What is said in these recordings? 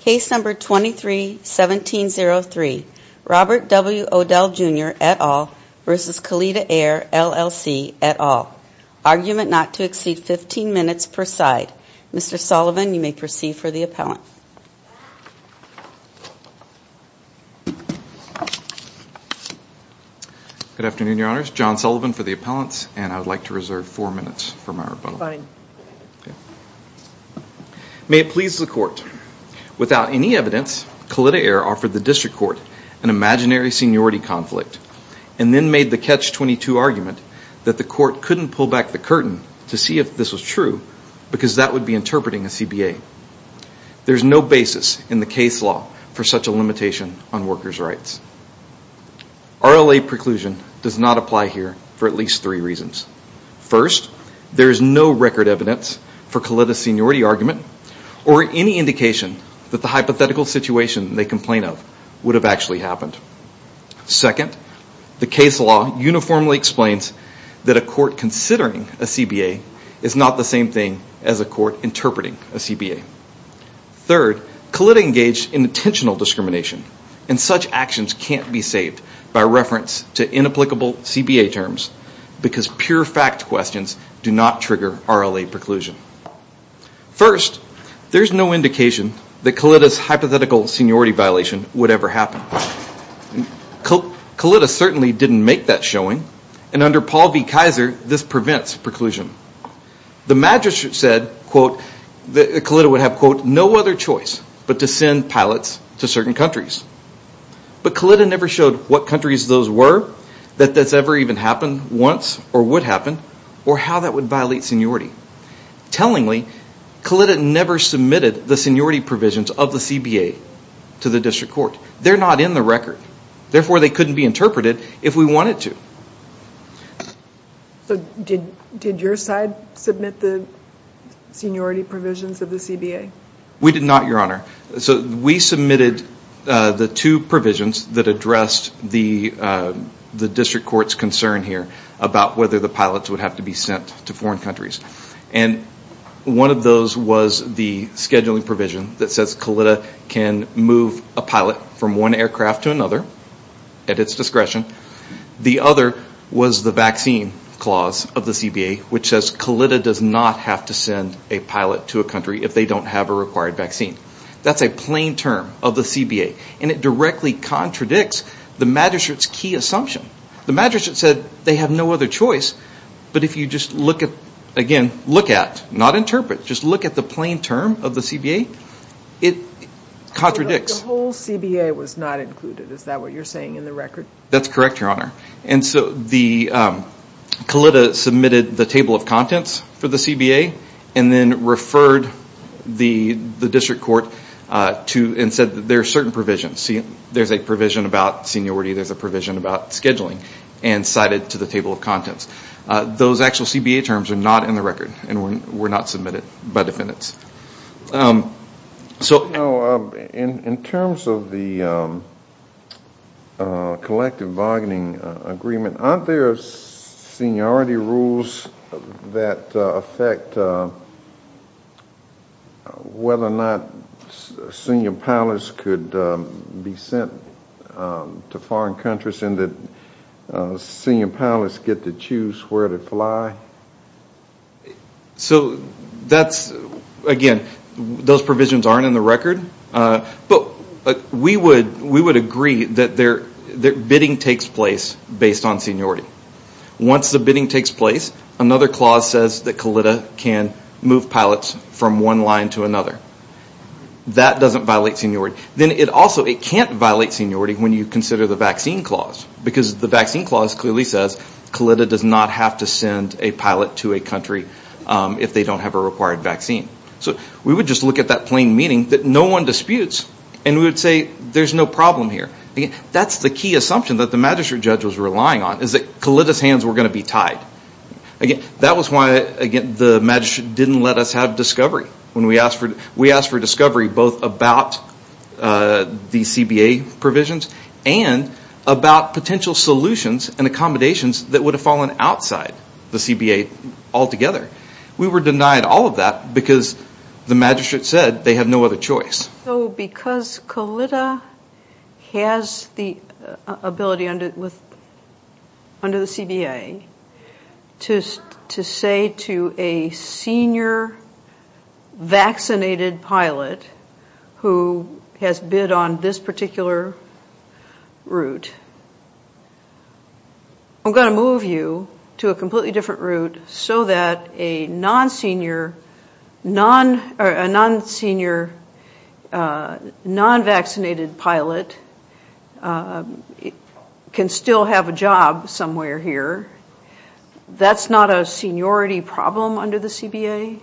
Case number 23-1703 Robert W. Odell Jr. et al. v. Kalitta Air LLC et al. Argument not to exceed 15 minutes per side. Mr. Sullivan, you may proceed for the appellant. Good afternoon, Your Honors. John Sullivan for the appellants, and I would like to reserve four minutes for my rebuttal. May it please the Court. Without any evidence, Kalitta Air offered the District Court an imaginary seniority conflict, and then made the Catch-22 argument that the Court couldn't pull back the curtain to see if this was true, because that would be interpreting a CBA. There is no basis in the case law for such a limitation on workers' rights. RLA preclusion does not apply here for at least three reasons. First, there is no record evidence for Kalitta's seniority argument, or any indication that the hypothetical situation they complain of would have actually happened. Second, the case law uniformly explains that a court considering a CBA is not the same thing as a court interpreting a CBA. Third, Kalitta engaged in intentional discrimination, and such actions can't be saved by reference to inapplicable CBA terms, because pure fact questions do not trigger RLA preclusion. First, there is no indication that Kalitta's hypothetical seniority violation would ever happen. Kalitta certainly didn't make that showing, and under Paul v. Kaiser, this prevents preclusion. The magistrate said, quote, that Kalitta would have, quote, no other choice but to send pilots to certain countries. But Kalitta never showed what countries those were, that that's ever even happened once, or would happen, or how that would violate seniority. Tellingly, Kalitta never submitted the seniority provisions of the CBA to the District Court. They're not in the record. Therefore, they couldn't be interpreted if we wanted to. So did your side submit the seniority provisions of the CBA? We did not, Your Honor. So we submitted the two provisions that addressed the District Court's concern here about whether the pilots would have to be sent to foreign countries. And one of those was the scheduling provision that says Kalitta can move a pilot from one aircraft to another at its discretion. The other was the vaccine clause of the CBA, which says Kalitta does not have to send a pilot to a country if they don't have a required vaccine. That's a plain term of the CBA. And it directly contradicts the magistrate's key assumption. The magistrate said they have no other choice, but if you just look at, again, look at, not interpret, just look at the plain term of the CBA, it contradicts. The whole CBA was not included. Is that what you're saying in the record? That's correct, Your Honor. Kalitta submitted the table of contents for the CBA and then referred the District Court and said there are certain provisions. There's a provision about seniority, there's a provision about scheduling, and cited to the table of contents. Those actual CBA terms are not in the record and were not submitted by defendants. In terms of the collective bargaining agreement, aren't there seniority rules that affect whether or not senior pilots could be sent to foreign countries and that senior pilots get to choose where to fly? So that's, again, those provisions aren't in the record. But we would agree that bidding takes place based on seniority. Once the bidding takes place, another clause says that Kalitta can move pilots from one line to another. That doesn't violate seniority. Then it also, it can't violate seniority when you consider the vaccine clause. Because the vaccine clause clearly says Kalitta does not have to send a pilot to a country if they don't have a required vaccine. So we would just look at that plain meaning that no one disputes and we would say there's no problem here. That's the key assumption that the magistrate judge was relying on, is that Kalitta's hands were going to be tied. That was why, again, the magistrate didn't let us have discovery. We asked for discovery both about the CBA provisions and about potential solutions and accommodations that would have fallen outside the CBA altogether. We were denied all of that because the magistrate said they have no other choice. So because Kalitta has the ability under the CBA to say to a senior vaccinated pilot who has bid on this particular route, I'm going to move you to a completely different route so that a non-senior, non-vaccinated pilot can still have a job somewhere here. That's not a seniority problem under the CBA?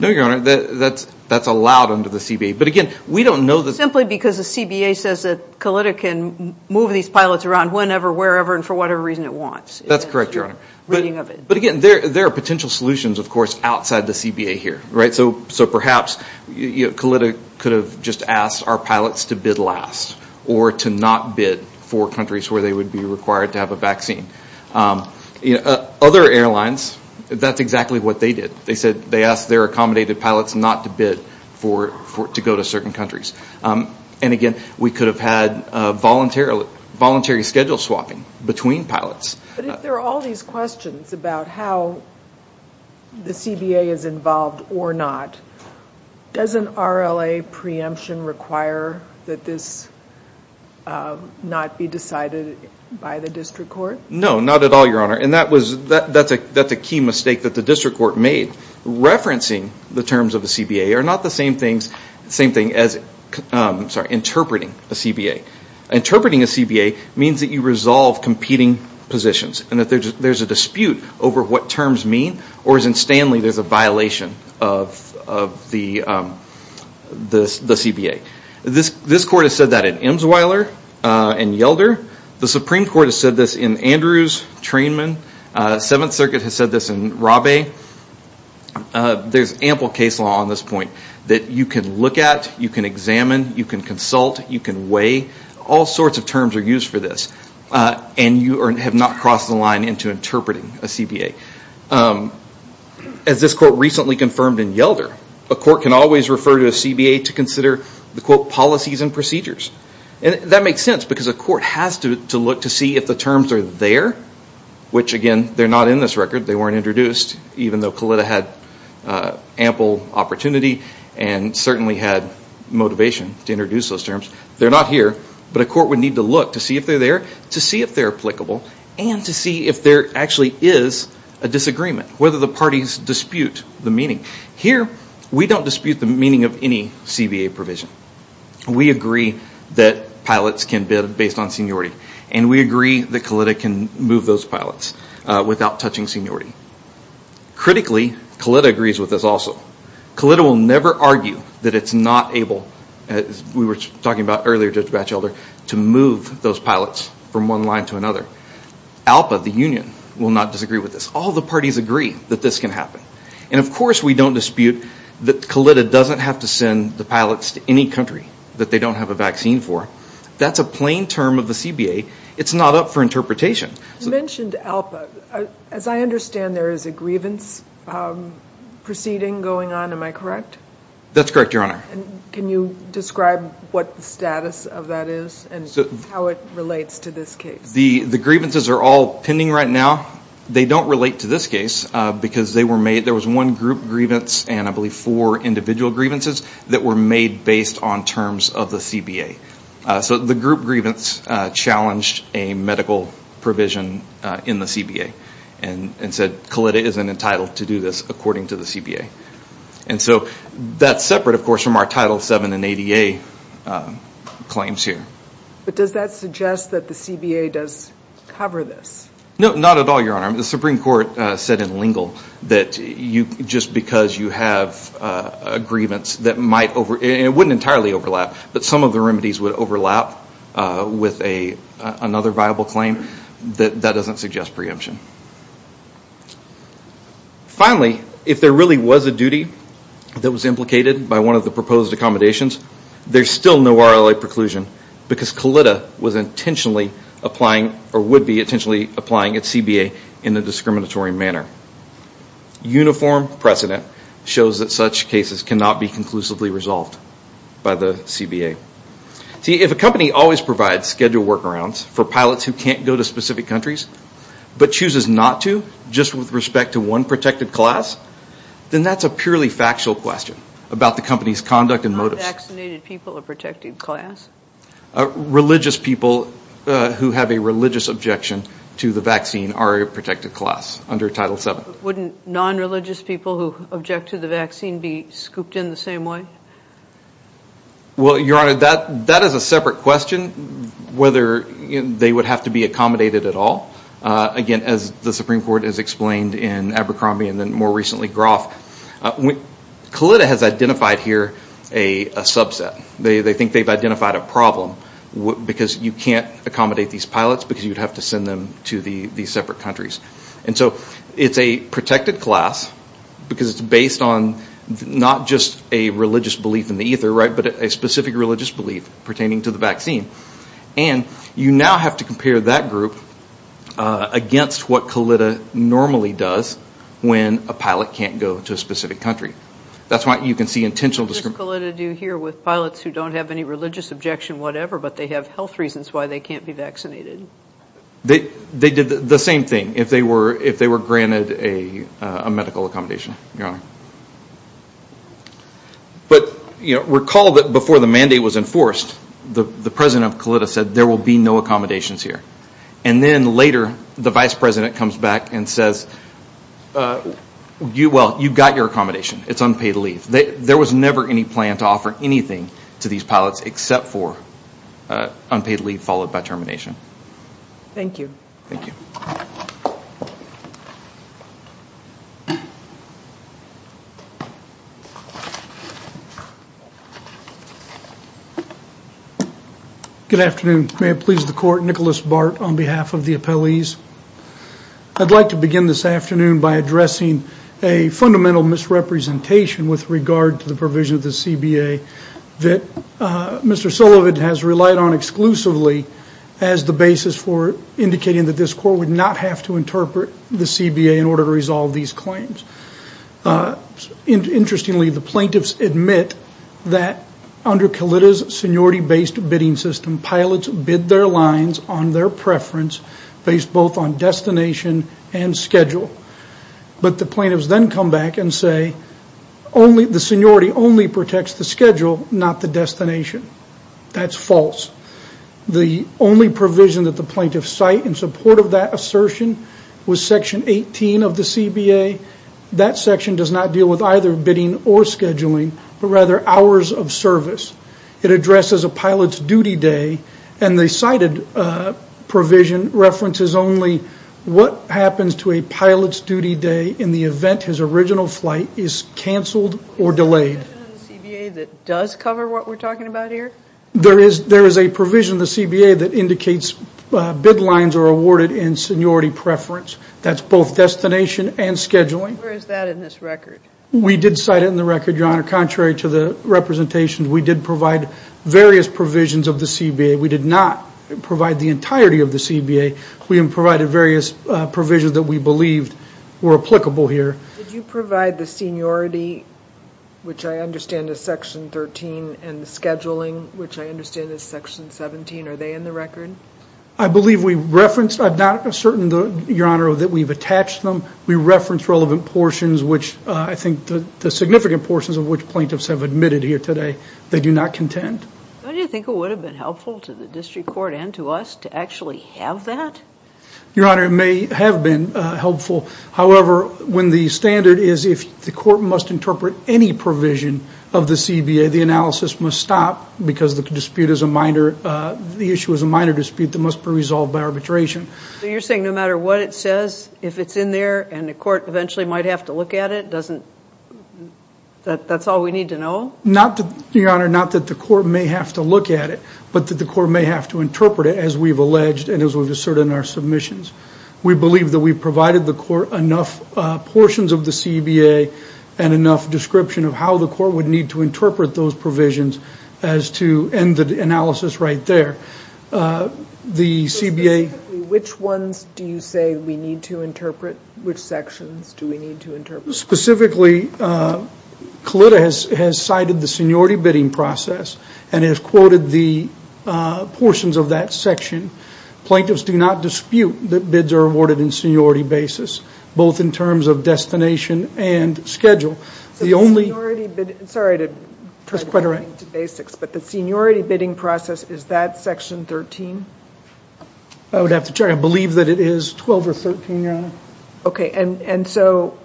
No, Your Honor, that's allowed under the CBA. Simply because the CBA says that Kalitta can move these pilots around whenever, wherever, and for whatever reason it wants. That's correct, Your Honor. But again, there are potential solutions, of course, outside the CBA here. So perhaps Kalitta could have just asked our pilots to bid last or to not bid for countries where they would be required to have a vaccine. Other airlines, that's exactly what they did. They asked their accommodated pilots not to bid to go to certain countries. And again, we could have had voluntary schedule swapping between pilots. But if there are all these questions about how the CBA is involved or not, doesn't RLA preemption require that this not be decided by the district court? No, not at all, Your Honor. And that's a key mistake that the district court made. Referencing the terms of the CBA are not the same thing as interpreting a CBA. Interpreting a CBA means that you resolve competing positions and that there's a dispute over what terms mean or as in Stanley, there's a violation of the CBA. This court has said that in Imsweiler and Yelder. The Supreme Court has said this in Andrews, Trainman. Seventh Circuit has said this in Rabe. There's ample case law on this point that you can look at, you can examine, you can consult, you can weigh. All sorts of terms are used for this. And you have not crossed the line into interpreting a CBA. As this court recently confirmed in Yelder, a court can always refer to a CBA to consider the, quote, policies and procedures. And that makes sense because a court has to look to see if the terms are there, which again, they're not in this record, they weren't introduced, even though Kalitta had ample opportunity and certainly had motivation to introduce those terms. They're not here, but a court would need to look to see if they're there, to see if they're applicable, and to see if there actually is a disagreement, whether the parties dispute the meaning. Here, we don't dispute the meaning of any CBA provision. We agree that pilots can bid based on seniority. And we agree that Kalitta can move those pilots without touching seniority. Critically, Kalitta agrees with this also. Kalitta will never argue that it's not able, as we were talking about earlier, Judge Batchelder, to move those pilots from one line to another. ALPA, the union, will not disagree with this. All the parties agree that this can happen. And, of course, we don't dispute that Kalitta doesn't have to send the pilots to any country that they don't have a vaccine for. That's a plain term of the CBA. It's not up for interpretation. You mentioned ALPA. As I understand, there is a grievance proceeding going on, am I correct? That's correct, Your Honor. Can you describe what the status of that is and how it relates to this case? The grievances are all pending right now. They don't relate to this case because there was one group grievance and I believe four individual grievances that were made based on terms of the CBA. So the group grievance challenged a medical provision in the CBA and said Kalitta isn't entitled to do this according to the CBA. And so that's separate, of course, from our Title VII and ADA claims here. But does that suggest that the CBA does cover this? No, not at all, Your Honor. The Supreme Court said in Lingle that just because you have a grievance that might over and it wouldn't entirely overlap but some of the remedies would overlap with another viable claim, that doesn't suggest preemption. Finally, if there really was a duty that was implicated by one of the proposed accommodations, there's still no RLA preclusion because Kalitta was intentionally applying or would be intentionally applying at CBA in a discriminatory manner. Uniform precedent shows that such cases cannot be conclusively resolved by the CBA. See, if a company always provides schedule workarounds for pilots who can't go to specific countries but chooses not to just with respect to one protected class, then that's a purely factual question about the company's conduct and motives. Are vaccinated people a protected class? Religious people who have a religious objection to the vaccine are a protected class under Title VII. Wouldn't non-religious people who object to the vaccine be scooped in the same way? Well, Your Honor, that is a separate question whether they would have to be accommodated at all. Again, as the Supreme Court has explained in Abercrombie and then more recently Groff, Kalitta has identified here a subset. They think they've identified a problem because you can't accommodate these pilots because you'd have to send them to these separate countries. And so it's a protected class because it's based on not just a religious belief in the ether, right, but a specific religious belief pertaining to the vaccine. And you now have to compare that group against what Kalitta normally does when a pilot can't go to a specific country. That's why you can see intentional discrimination. What does Kalitta do here with pilots who don't have any religious objection, whatever, but they have health reasons why they can't be vaccinated? They did the same thing if they were granted a medical accommodation, Your Honor. But, you know, recall that before the mandate was enforced, the president of Kalitta said there will be no accommodations here. And then later the vice president comes back and says, well, you've got your accommodation. It's unpaid leave. There was never any plan to offer anything to these pilots except for unpaid leave followed by termination. Thank you. Thank you. Good afternoon. May it please the Court, Nicholas Bart on behalf of the appellees. I'd like to begin this afternoon by addressing a fundamental misrepresentation with regard to the provision of the CBA that Mr. Sullivan has relied on exclusively as the basis for indicating that this Court would not have to interpret the CBA in order to resolve these claims. Interestingly, the plaintiffs admit that under Kalitta's seniority-based bidding system, pilots bid their lines on their preference based both on destination and schedule. But the plaintiffs then come back and say the seniority only protects the schedule, not the destination. That's false. The only provision that the plaintiffs cite in support of that assertion was Section 18 of the CBA. That section does not deal with either bidding or scheduling, but rather hours of service. It addresses a pilot's duty day, and the cited provision references only what happens to a pilot's duty day in the event his original flight is canceled or delayed. Is there a provision in the CBA that does cover what we're talking about here? There is a provision in the CBA that indicates bid lines are awarded in seniority preference. That's both destination and scheduling. Where is that in this record? We did cite it in the record, Your Honor. Contrary to the representations, we did provide various provisions of the CBA. We did not provide the entirety of the CBA. We provided various provisions that we believed were applicable here. Did you provide the seniority, which I understand is Section 13, and the scheduling, which I understand is Section 17? Are they in the record? I believe we referenced. I'm not certain, Your Honor, that we've attached them. We referenced relevant portions, which I think the significant portions of which plaintiffs have admitted here today, they do not contend. Do you think it would have been helpful to the district court and to us to actually have that? Your Honor, it may have been helpful. However, when the standard is if the court must interpret any provision of the CBA, the analysis must stop because the issue is a minor dispute that must be resolved by arbitration. So you're saying no matter what it says, if it's in there and the court eventually might have to look at it, that's all we need to know? Your Honor, not that the court may have to look at it, but that the court may have to interpret it as we've alleged and as we've asserted in our submissions. We believe that we've provided the court enough portions of the CBA and enough description of how the court would need to interpret those provisions as to end the analysis right there. So specifically, which ones do you say we need to interpret? Which sections do we need to interpret? Specifically, CLTA has cited the seniority bidding process and has quoted the portions of that section. Plaintiffs do not dispute that bids are awarded in seniority basis, both in terms of destination and schedule. So the seniority bidding process, is that section 13? I would have to check. I believe that it is 12 or 13, Your Honor. Okay, and so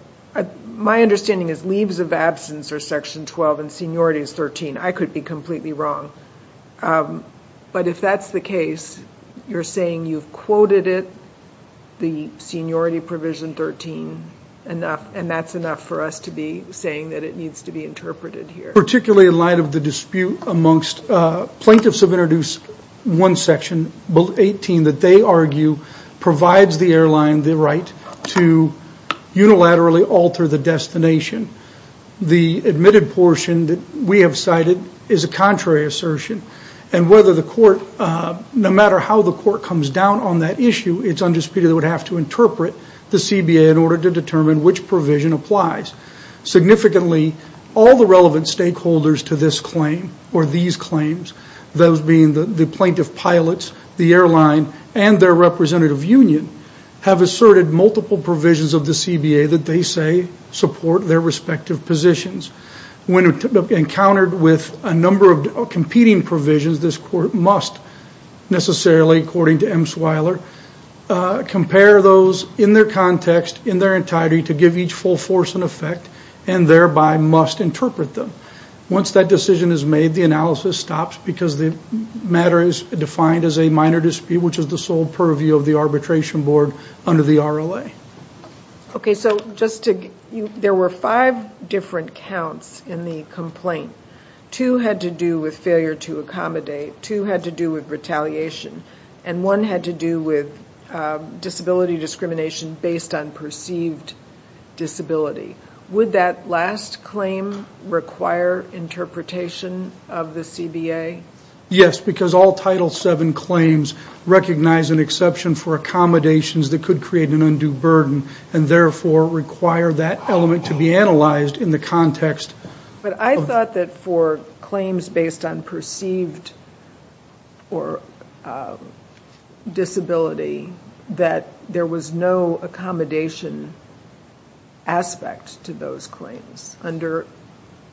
my understanding is leaves of absence are section 12 and seniority is 13. I could be completely wrong. But if that's the case, you're saying you've quoted it, the seniority provision 13, and that's enough for us to be saying that it needs to be interpreted here. Particularly in light of the dispute amongst plaintiffs have introduced one section, 18, that they argue provides the airline the right to unilaterally alter the destination. The admitted portion that we have cited is a contrary assertion, and whether the court, no matter how the court comes down on that issue, it's undisputed it would have to interpret the CBA in order to determine which provision applies. Significantly, all the relevant stakeholders to this claim or these claims, those being the plaintiff pilots, the airline, and their representative union, have asserted multiple provisions of the CBA that they say support their respective positions. When encountered with a number of competing provisions, this court must necessarily, according to M. Swiler, compare those in their context, in their entirety, to give each full force and effect, and thereby must interpret them. Once that decision is made, the analysis stops because the matter is defined as a minor dispute, which is the sole purview of the arbitration board under the RLA. Okay, so there were five different counts in the complaint. Two had to do with failure to accommodate, two had to do with retaliation, and one had to do with disability discrimination based on perceived disability. Would that last claim require interpretation of the CBA? Yes, because all Title VII claims recognize an exception for accommodations that could create an undue burden, and therefore require that element to be analyzed in the context. But I thought that for claims based on perceived disability, that there was no accommodation aspect to those claims under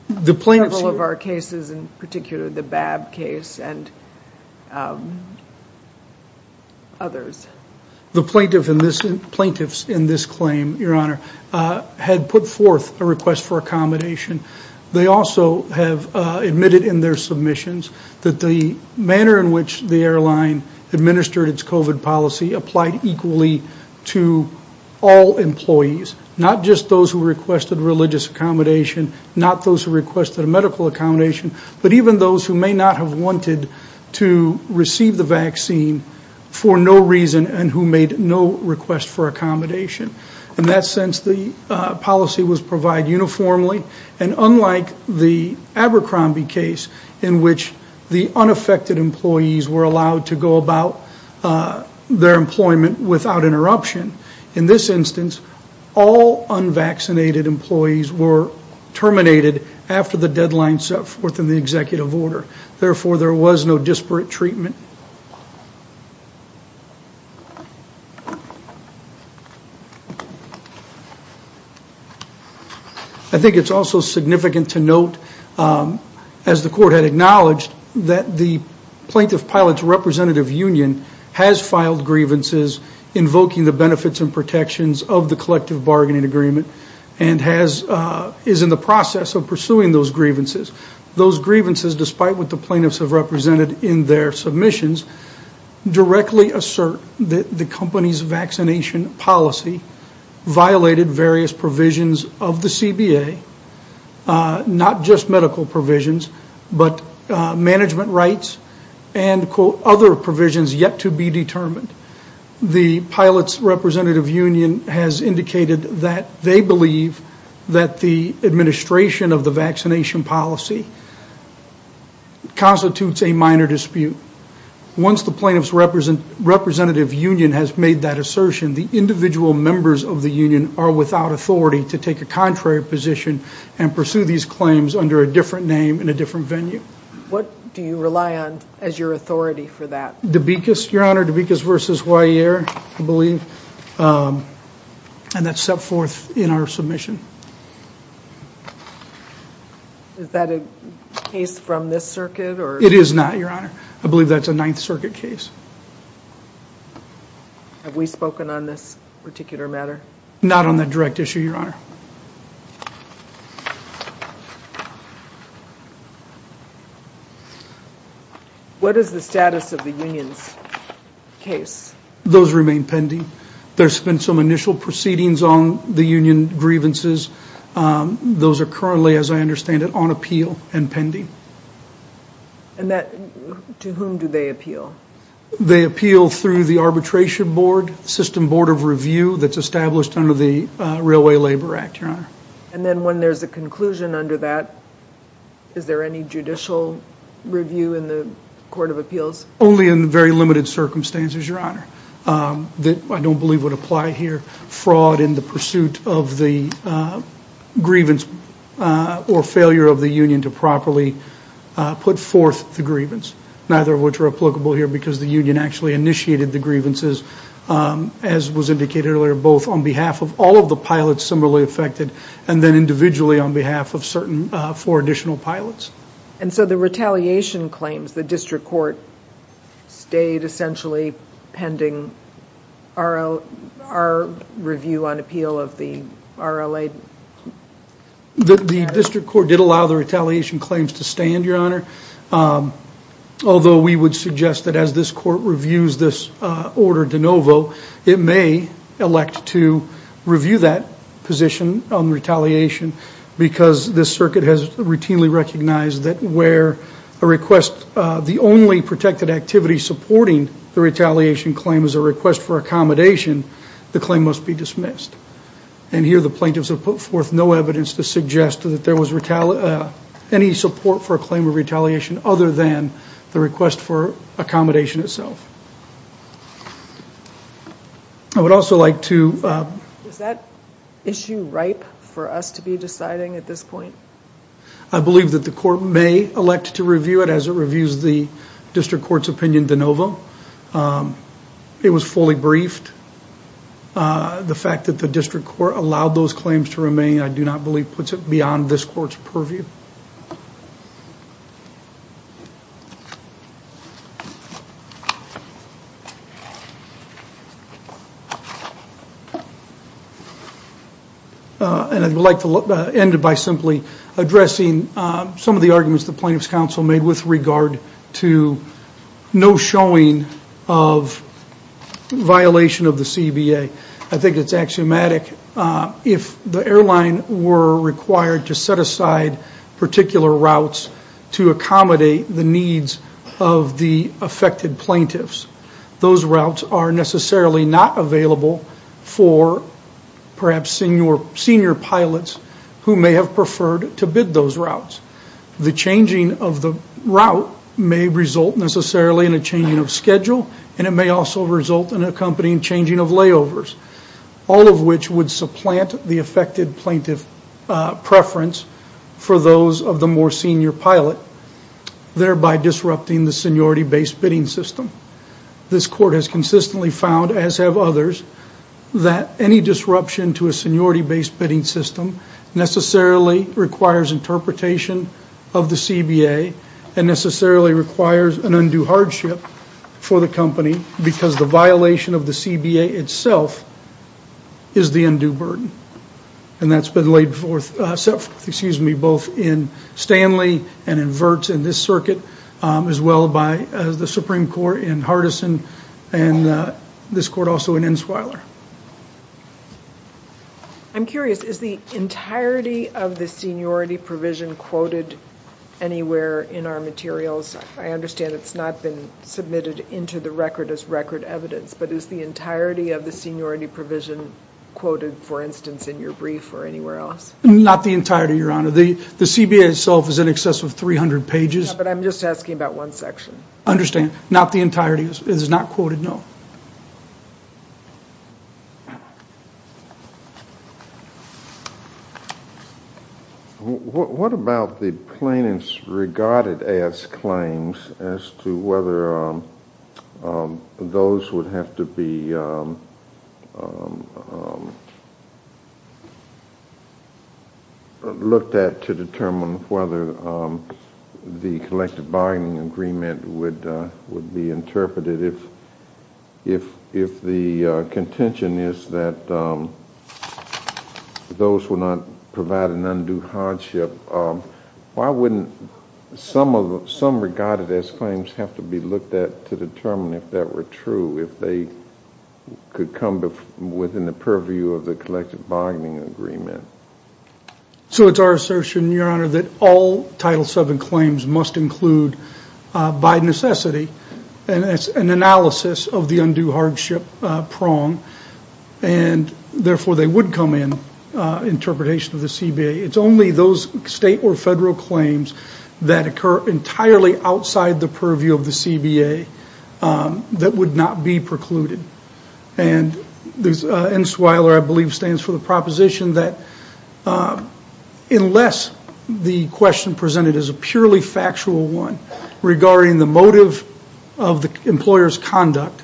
several of our cases, in particular the Babb case and others. The plaintiffs in this claim, Your Honor, had put forth a request for accommodation. They also have admitted in their submissions that the manner in which the airline administered its COVID policy applied equally to all employees, not just those who requested religious accommodation, not those who requested a medical accommodation, but even those who may not have wanted to receive the vaccine for no reason and who made no request for accommodation. In that sense, the policy was provided uniformly, and unlike the Abercrombie case in which the unaffected employees were allowed to go about their employment without interruption, in this instance, all unvaccinated employees were terminated after the deadline set forth in the executive order. Therefore, there was no disparate treatment. I think it's also significant to note, as the Court had acknowledged, that the Plaintiff-Pilot's representative union has filed grievances invoking the benefits and protections of the collective bargaining agreement and is in the process of pursuing those grievances. Those grievances, despite what the plaintiffs have represented in their submissions, directly assert that the company's vaccination policy violated various provisions of the CBA, not just medical provisions but management rights and, quote, other provisions yet to be determined. The Pilot's representative union has indicated that they believe that the administration of the vaccination policy constitutes a minor dispute. Once the Plaintiff's representative union has made that assertion, the individual members of the union are without authority to take a contrary position and pursue these claims under a different name in a different venue. What do you rely on as your authority for that? Dubikis, Your Honor, Dubikis v. Weyer, I believe, and that's set forth in our submission. Is that a case from this circuit? It is not, Your Honor. I believe that's a Ninth Circuit case. Have we spoken on this particular matter? Not on that direct issue, Your Honor. What is the status of the union's case? Those remain pending. There's been some initial proceedings on the union grievances. Those are currently, as I understand it, on appeal and pending. And to whom do they appeal? They appeal through the arbitration board, system board of review that's established under the Railway Labor Act, Your Honor. And then when there's a conclusion under that, is there any judicial review in the court of appeals? Only in very limited circumstances, Your Honor, that I don't believe would apply here. Fraud in the pursuit of the grievance or failure of the union to properly put forth the grievance, neither of which are applicable here because the union actually initiated the grievances, as was indicated earlier, both on behalf of all of the pilots similarly affected and then individually on behalf of certain four additional pilots. And so the retaliation claims, the district court stayed essentially pending our review on appeal of the RLA? The district court did allow the retaliation claims to stand, Your Honor, although we would suggest that as this court reviews this order de novo, it may elect to review that position on retaliation because this circuit has routinely recognized that where a request, the only protected activity supporting the retaliation claim is a request for accommodation, the claim must be dismissed. And here the plaintiffs have put forth no evidence to suggest that there was any support for a claim of retaliation other than the request for accommodation itself. I would also like to... Is that issue ripe for us to be deciding at this point? I believe that the court may elect to review it as it reviews the district court's opinion de novo. It was fully briefed. The fact that the district court allowed those claims to remain, I do not believe, puts it beyond this court's purview. And I would like to end it by simply addressing some of the arguments the plaintiffs' counsel made with regard to no showing of violation of the CBA. I think it's axiomatic. If the airline were required to set aside particular routes to accommodate the needs of the affected plaintiffs, those routes are necessarily not available for perhaps senior pilots who may have preferred to bid those routes. The changing of the route may result necessarily in a changing of schedule and it may also result in accompanying changing of layovers, all of which would supplant the affected plaintiff preference for those of the more senior pilot, thereby disrupting the seniority-based bidding system. This court has consistently found, as have others, that any disruption to a seniority-based bidding system necessarily requires interpretation of the CBA and necessarily requires an undue hardship for the company because the violation of the CBA itself is the undue burden. And that's been laid forth, excuse me, both in Stanley and in Vertz in this circuit, as well by the Supreme Court in Hardison and this court also in Insweiler. I'm curious, is the entirety of the seniority provision quoted anywhere in our materials? I understand it's not been submitted into the record as record evidence, but is the entirety of the seniority provision quoted, for instance, in your brief or anywhere else? Not the entirety, Your Honor. The CBA itself is in excess of 300 pages. But I'm just asking about one section. Understand. Not the entirety. It is not quoted, no. Thank you. What about the plaintiff's regarded-as claims as to whether those would have to be looked at to determine whether the collective bargaining agreement would be interpreted if the contention is that those would not provide an undue hardship? Why wouldn't some regarded-as claims have to be looked at to determine if that were true, if they could come within the purview of the collective bargaining agreement? So it's our assertion, Your Honor, that all Title VII claims must include, by necessity, an analysis of the undue hardship prong, and therefore they would come in, interpretation of the CBA. It's only those state or federal claims that occur entirely outside the purview of the CBA that would not be precluded. And NSWILER, I believe, stands for the proposition that unless the question presented is a purely factual one regarding the motive of the employer's conduct,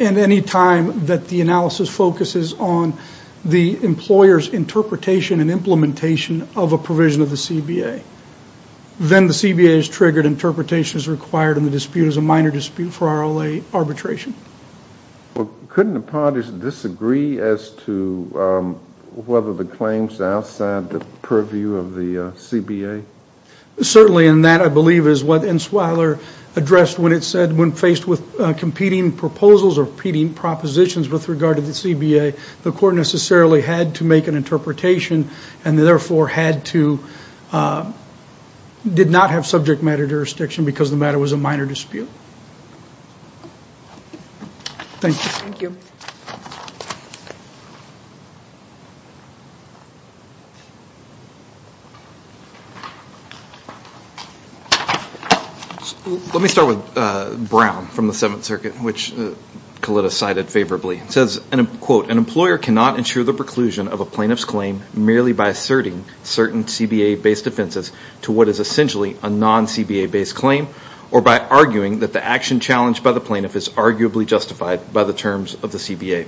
and any time that the analysis focuses on the employer's interpretation and implementation of a provision of the CBA, then the CBA is triggered, interpretation is required, and the dispute is a minor dispute for RLA arbitration. Well, couldn't the parties disagree as to whether the claims outside the purview of the CBA? Certainly, and that, I believe, is what NSWILER addressed when it said when faced with competing proposals or competing propositions with regard to the CBA, the court necessarily had to make an interpretation and therefore did not have subject matter jurisdiction because the matter was a minor dispute. Thank you. Let me start with Brown from the Seventh Circuit, which Kalita cited favorably. It says, quote, an employer cannot ensure the preclusion of a plaintiff's claim merely by asserting certain CBA-based offenses to what is essentially a non-CBA-based claim or by arguing that the action challenged by the plaintiff is arguably justified by the terms of the CBA.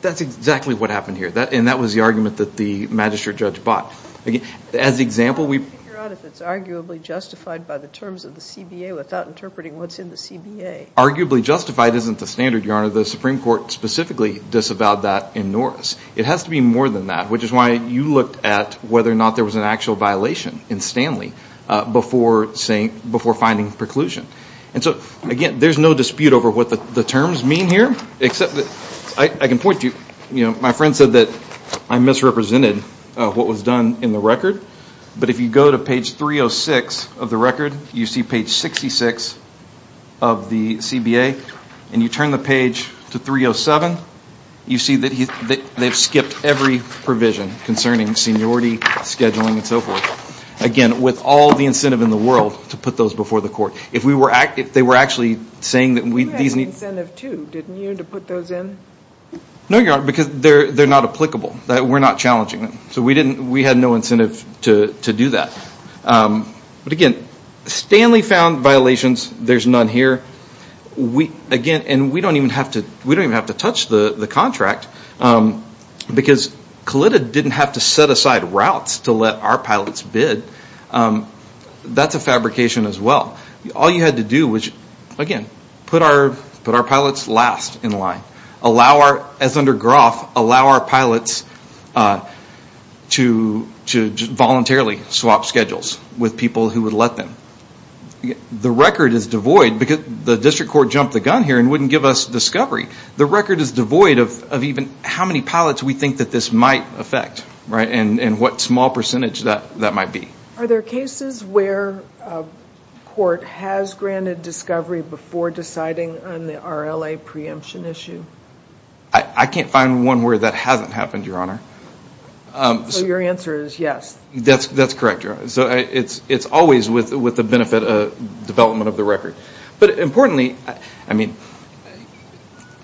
That's exactly what happened here, and that was the argument that the Magistrate Judge bought. As an example, we ---- How do you figure out if it's arguably justified by the terms of the CBA without interpreting what's in the CBA? Arguably justified isn't the standard, Your Honor. The Supreme Court specifically disavowed that in Norris. It has to be more than that, which is why you looked at whether or not there was an actual violation in Stanley before finding preclusion. And so, again, there's no dispute over what the terms mean here, except that I can point to you. My friend said that I misrepresented what was done in the record, but if you go to page 306 of the record, you see page 66 of the CBA, and you turn the page to 307, you see that they've skipped every provision concerning seniority, scheduling, and so forth. Again, with all the incentive in the world to put those before the court. If they were actually saying that we ---- You had incentive, too, didn't you, to put those in? No, Your Honor, because they're not applicable. We're not challenging them. So we had no incentive to do that. But again, Stanley found violations. There's none here. Again, and we don't even have to touch the contract, because CLIDA didn't have to set aside routes to let our pilots bid. That's a fabrication as well. All you had to do was, again, put our pilots last in line. As under Groff, allow our pilots to voluntarily swap schedules with people who would let them. The record is devoid, because the district court jumped the gun here and wouldn't give us discovery. The record is devoid of even how many pilots we think that this might affect, and what small percentage that might be. Are there cases where a court has granted discovery before deciding on the RLA preemption issue? I can't find one where that hasn't happened, Your Honor. So your answer is yes. That's correct, Your Honor. So it's always with the benefit of development of the record. But importantly, I mean,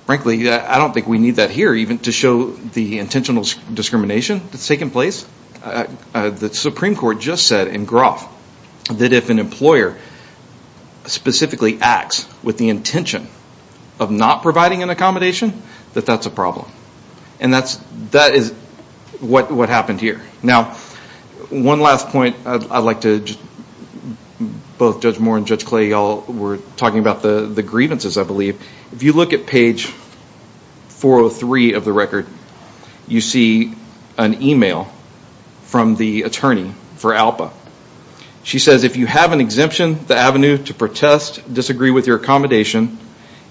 frankly, I don't think we need that here even to show the intentional discrimination that's taken place. The Supreme Court just said in Groff that if an employer specifically acts with the intention of not providing an accommodation, that that's a problem. And that is what happened here. Now, one last point I'd like to, both Judge Moore and Judge Clay, you all were talking about the grievances, I believe. If you look at page 403 of the record, you see an email from the attorney for ALPA. She says, if you have an exemption, the avenue to protest, disagree with your accommodation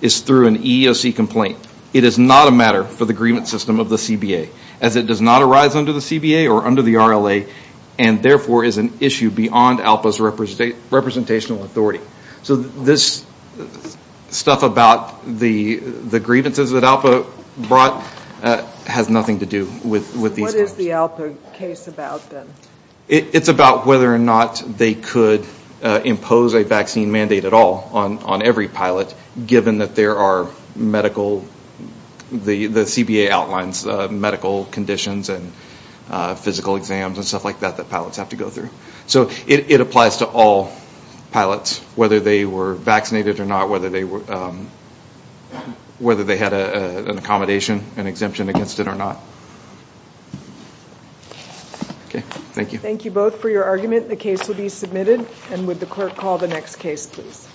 is through an EEOC complaint. It is not a matter for the grievance system of the CBA, as it does not arise under the CBA or under the RLA, and therefore is an issue beyond ALPA's representational authority. So this stuff about the grievances that ALPA brought has nothing to do with these guys. What is the ALPA case about then? It's about whether or not they could impose a vaccine mandate at all on every pilot, given that there are medical, the CBA outlines medical conditions and physical exams and stuff like that that pilots have to go through. So it applies to all pilots, whether they were vaccinated or not, whether they had an accommodation, an exemption against it or not. Okay. Thank you. Thank you both for your argument. The case will be submitted. And would the clerk call the next case, please?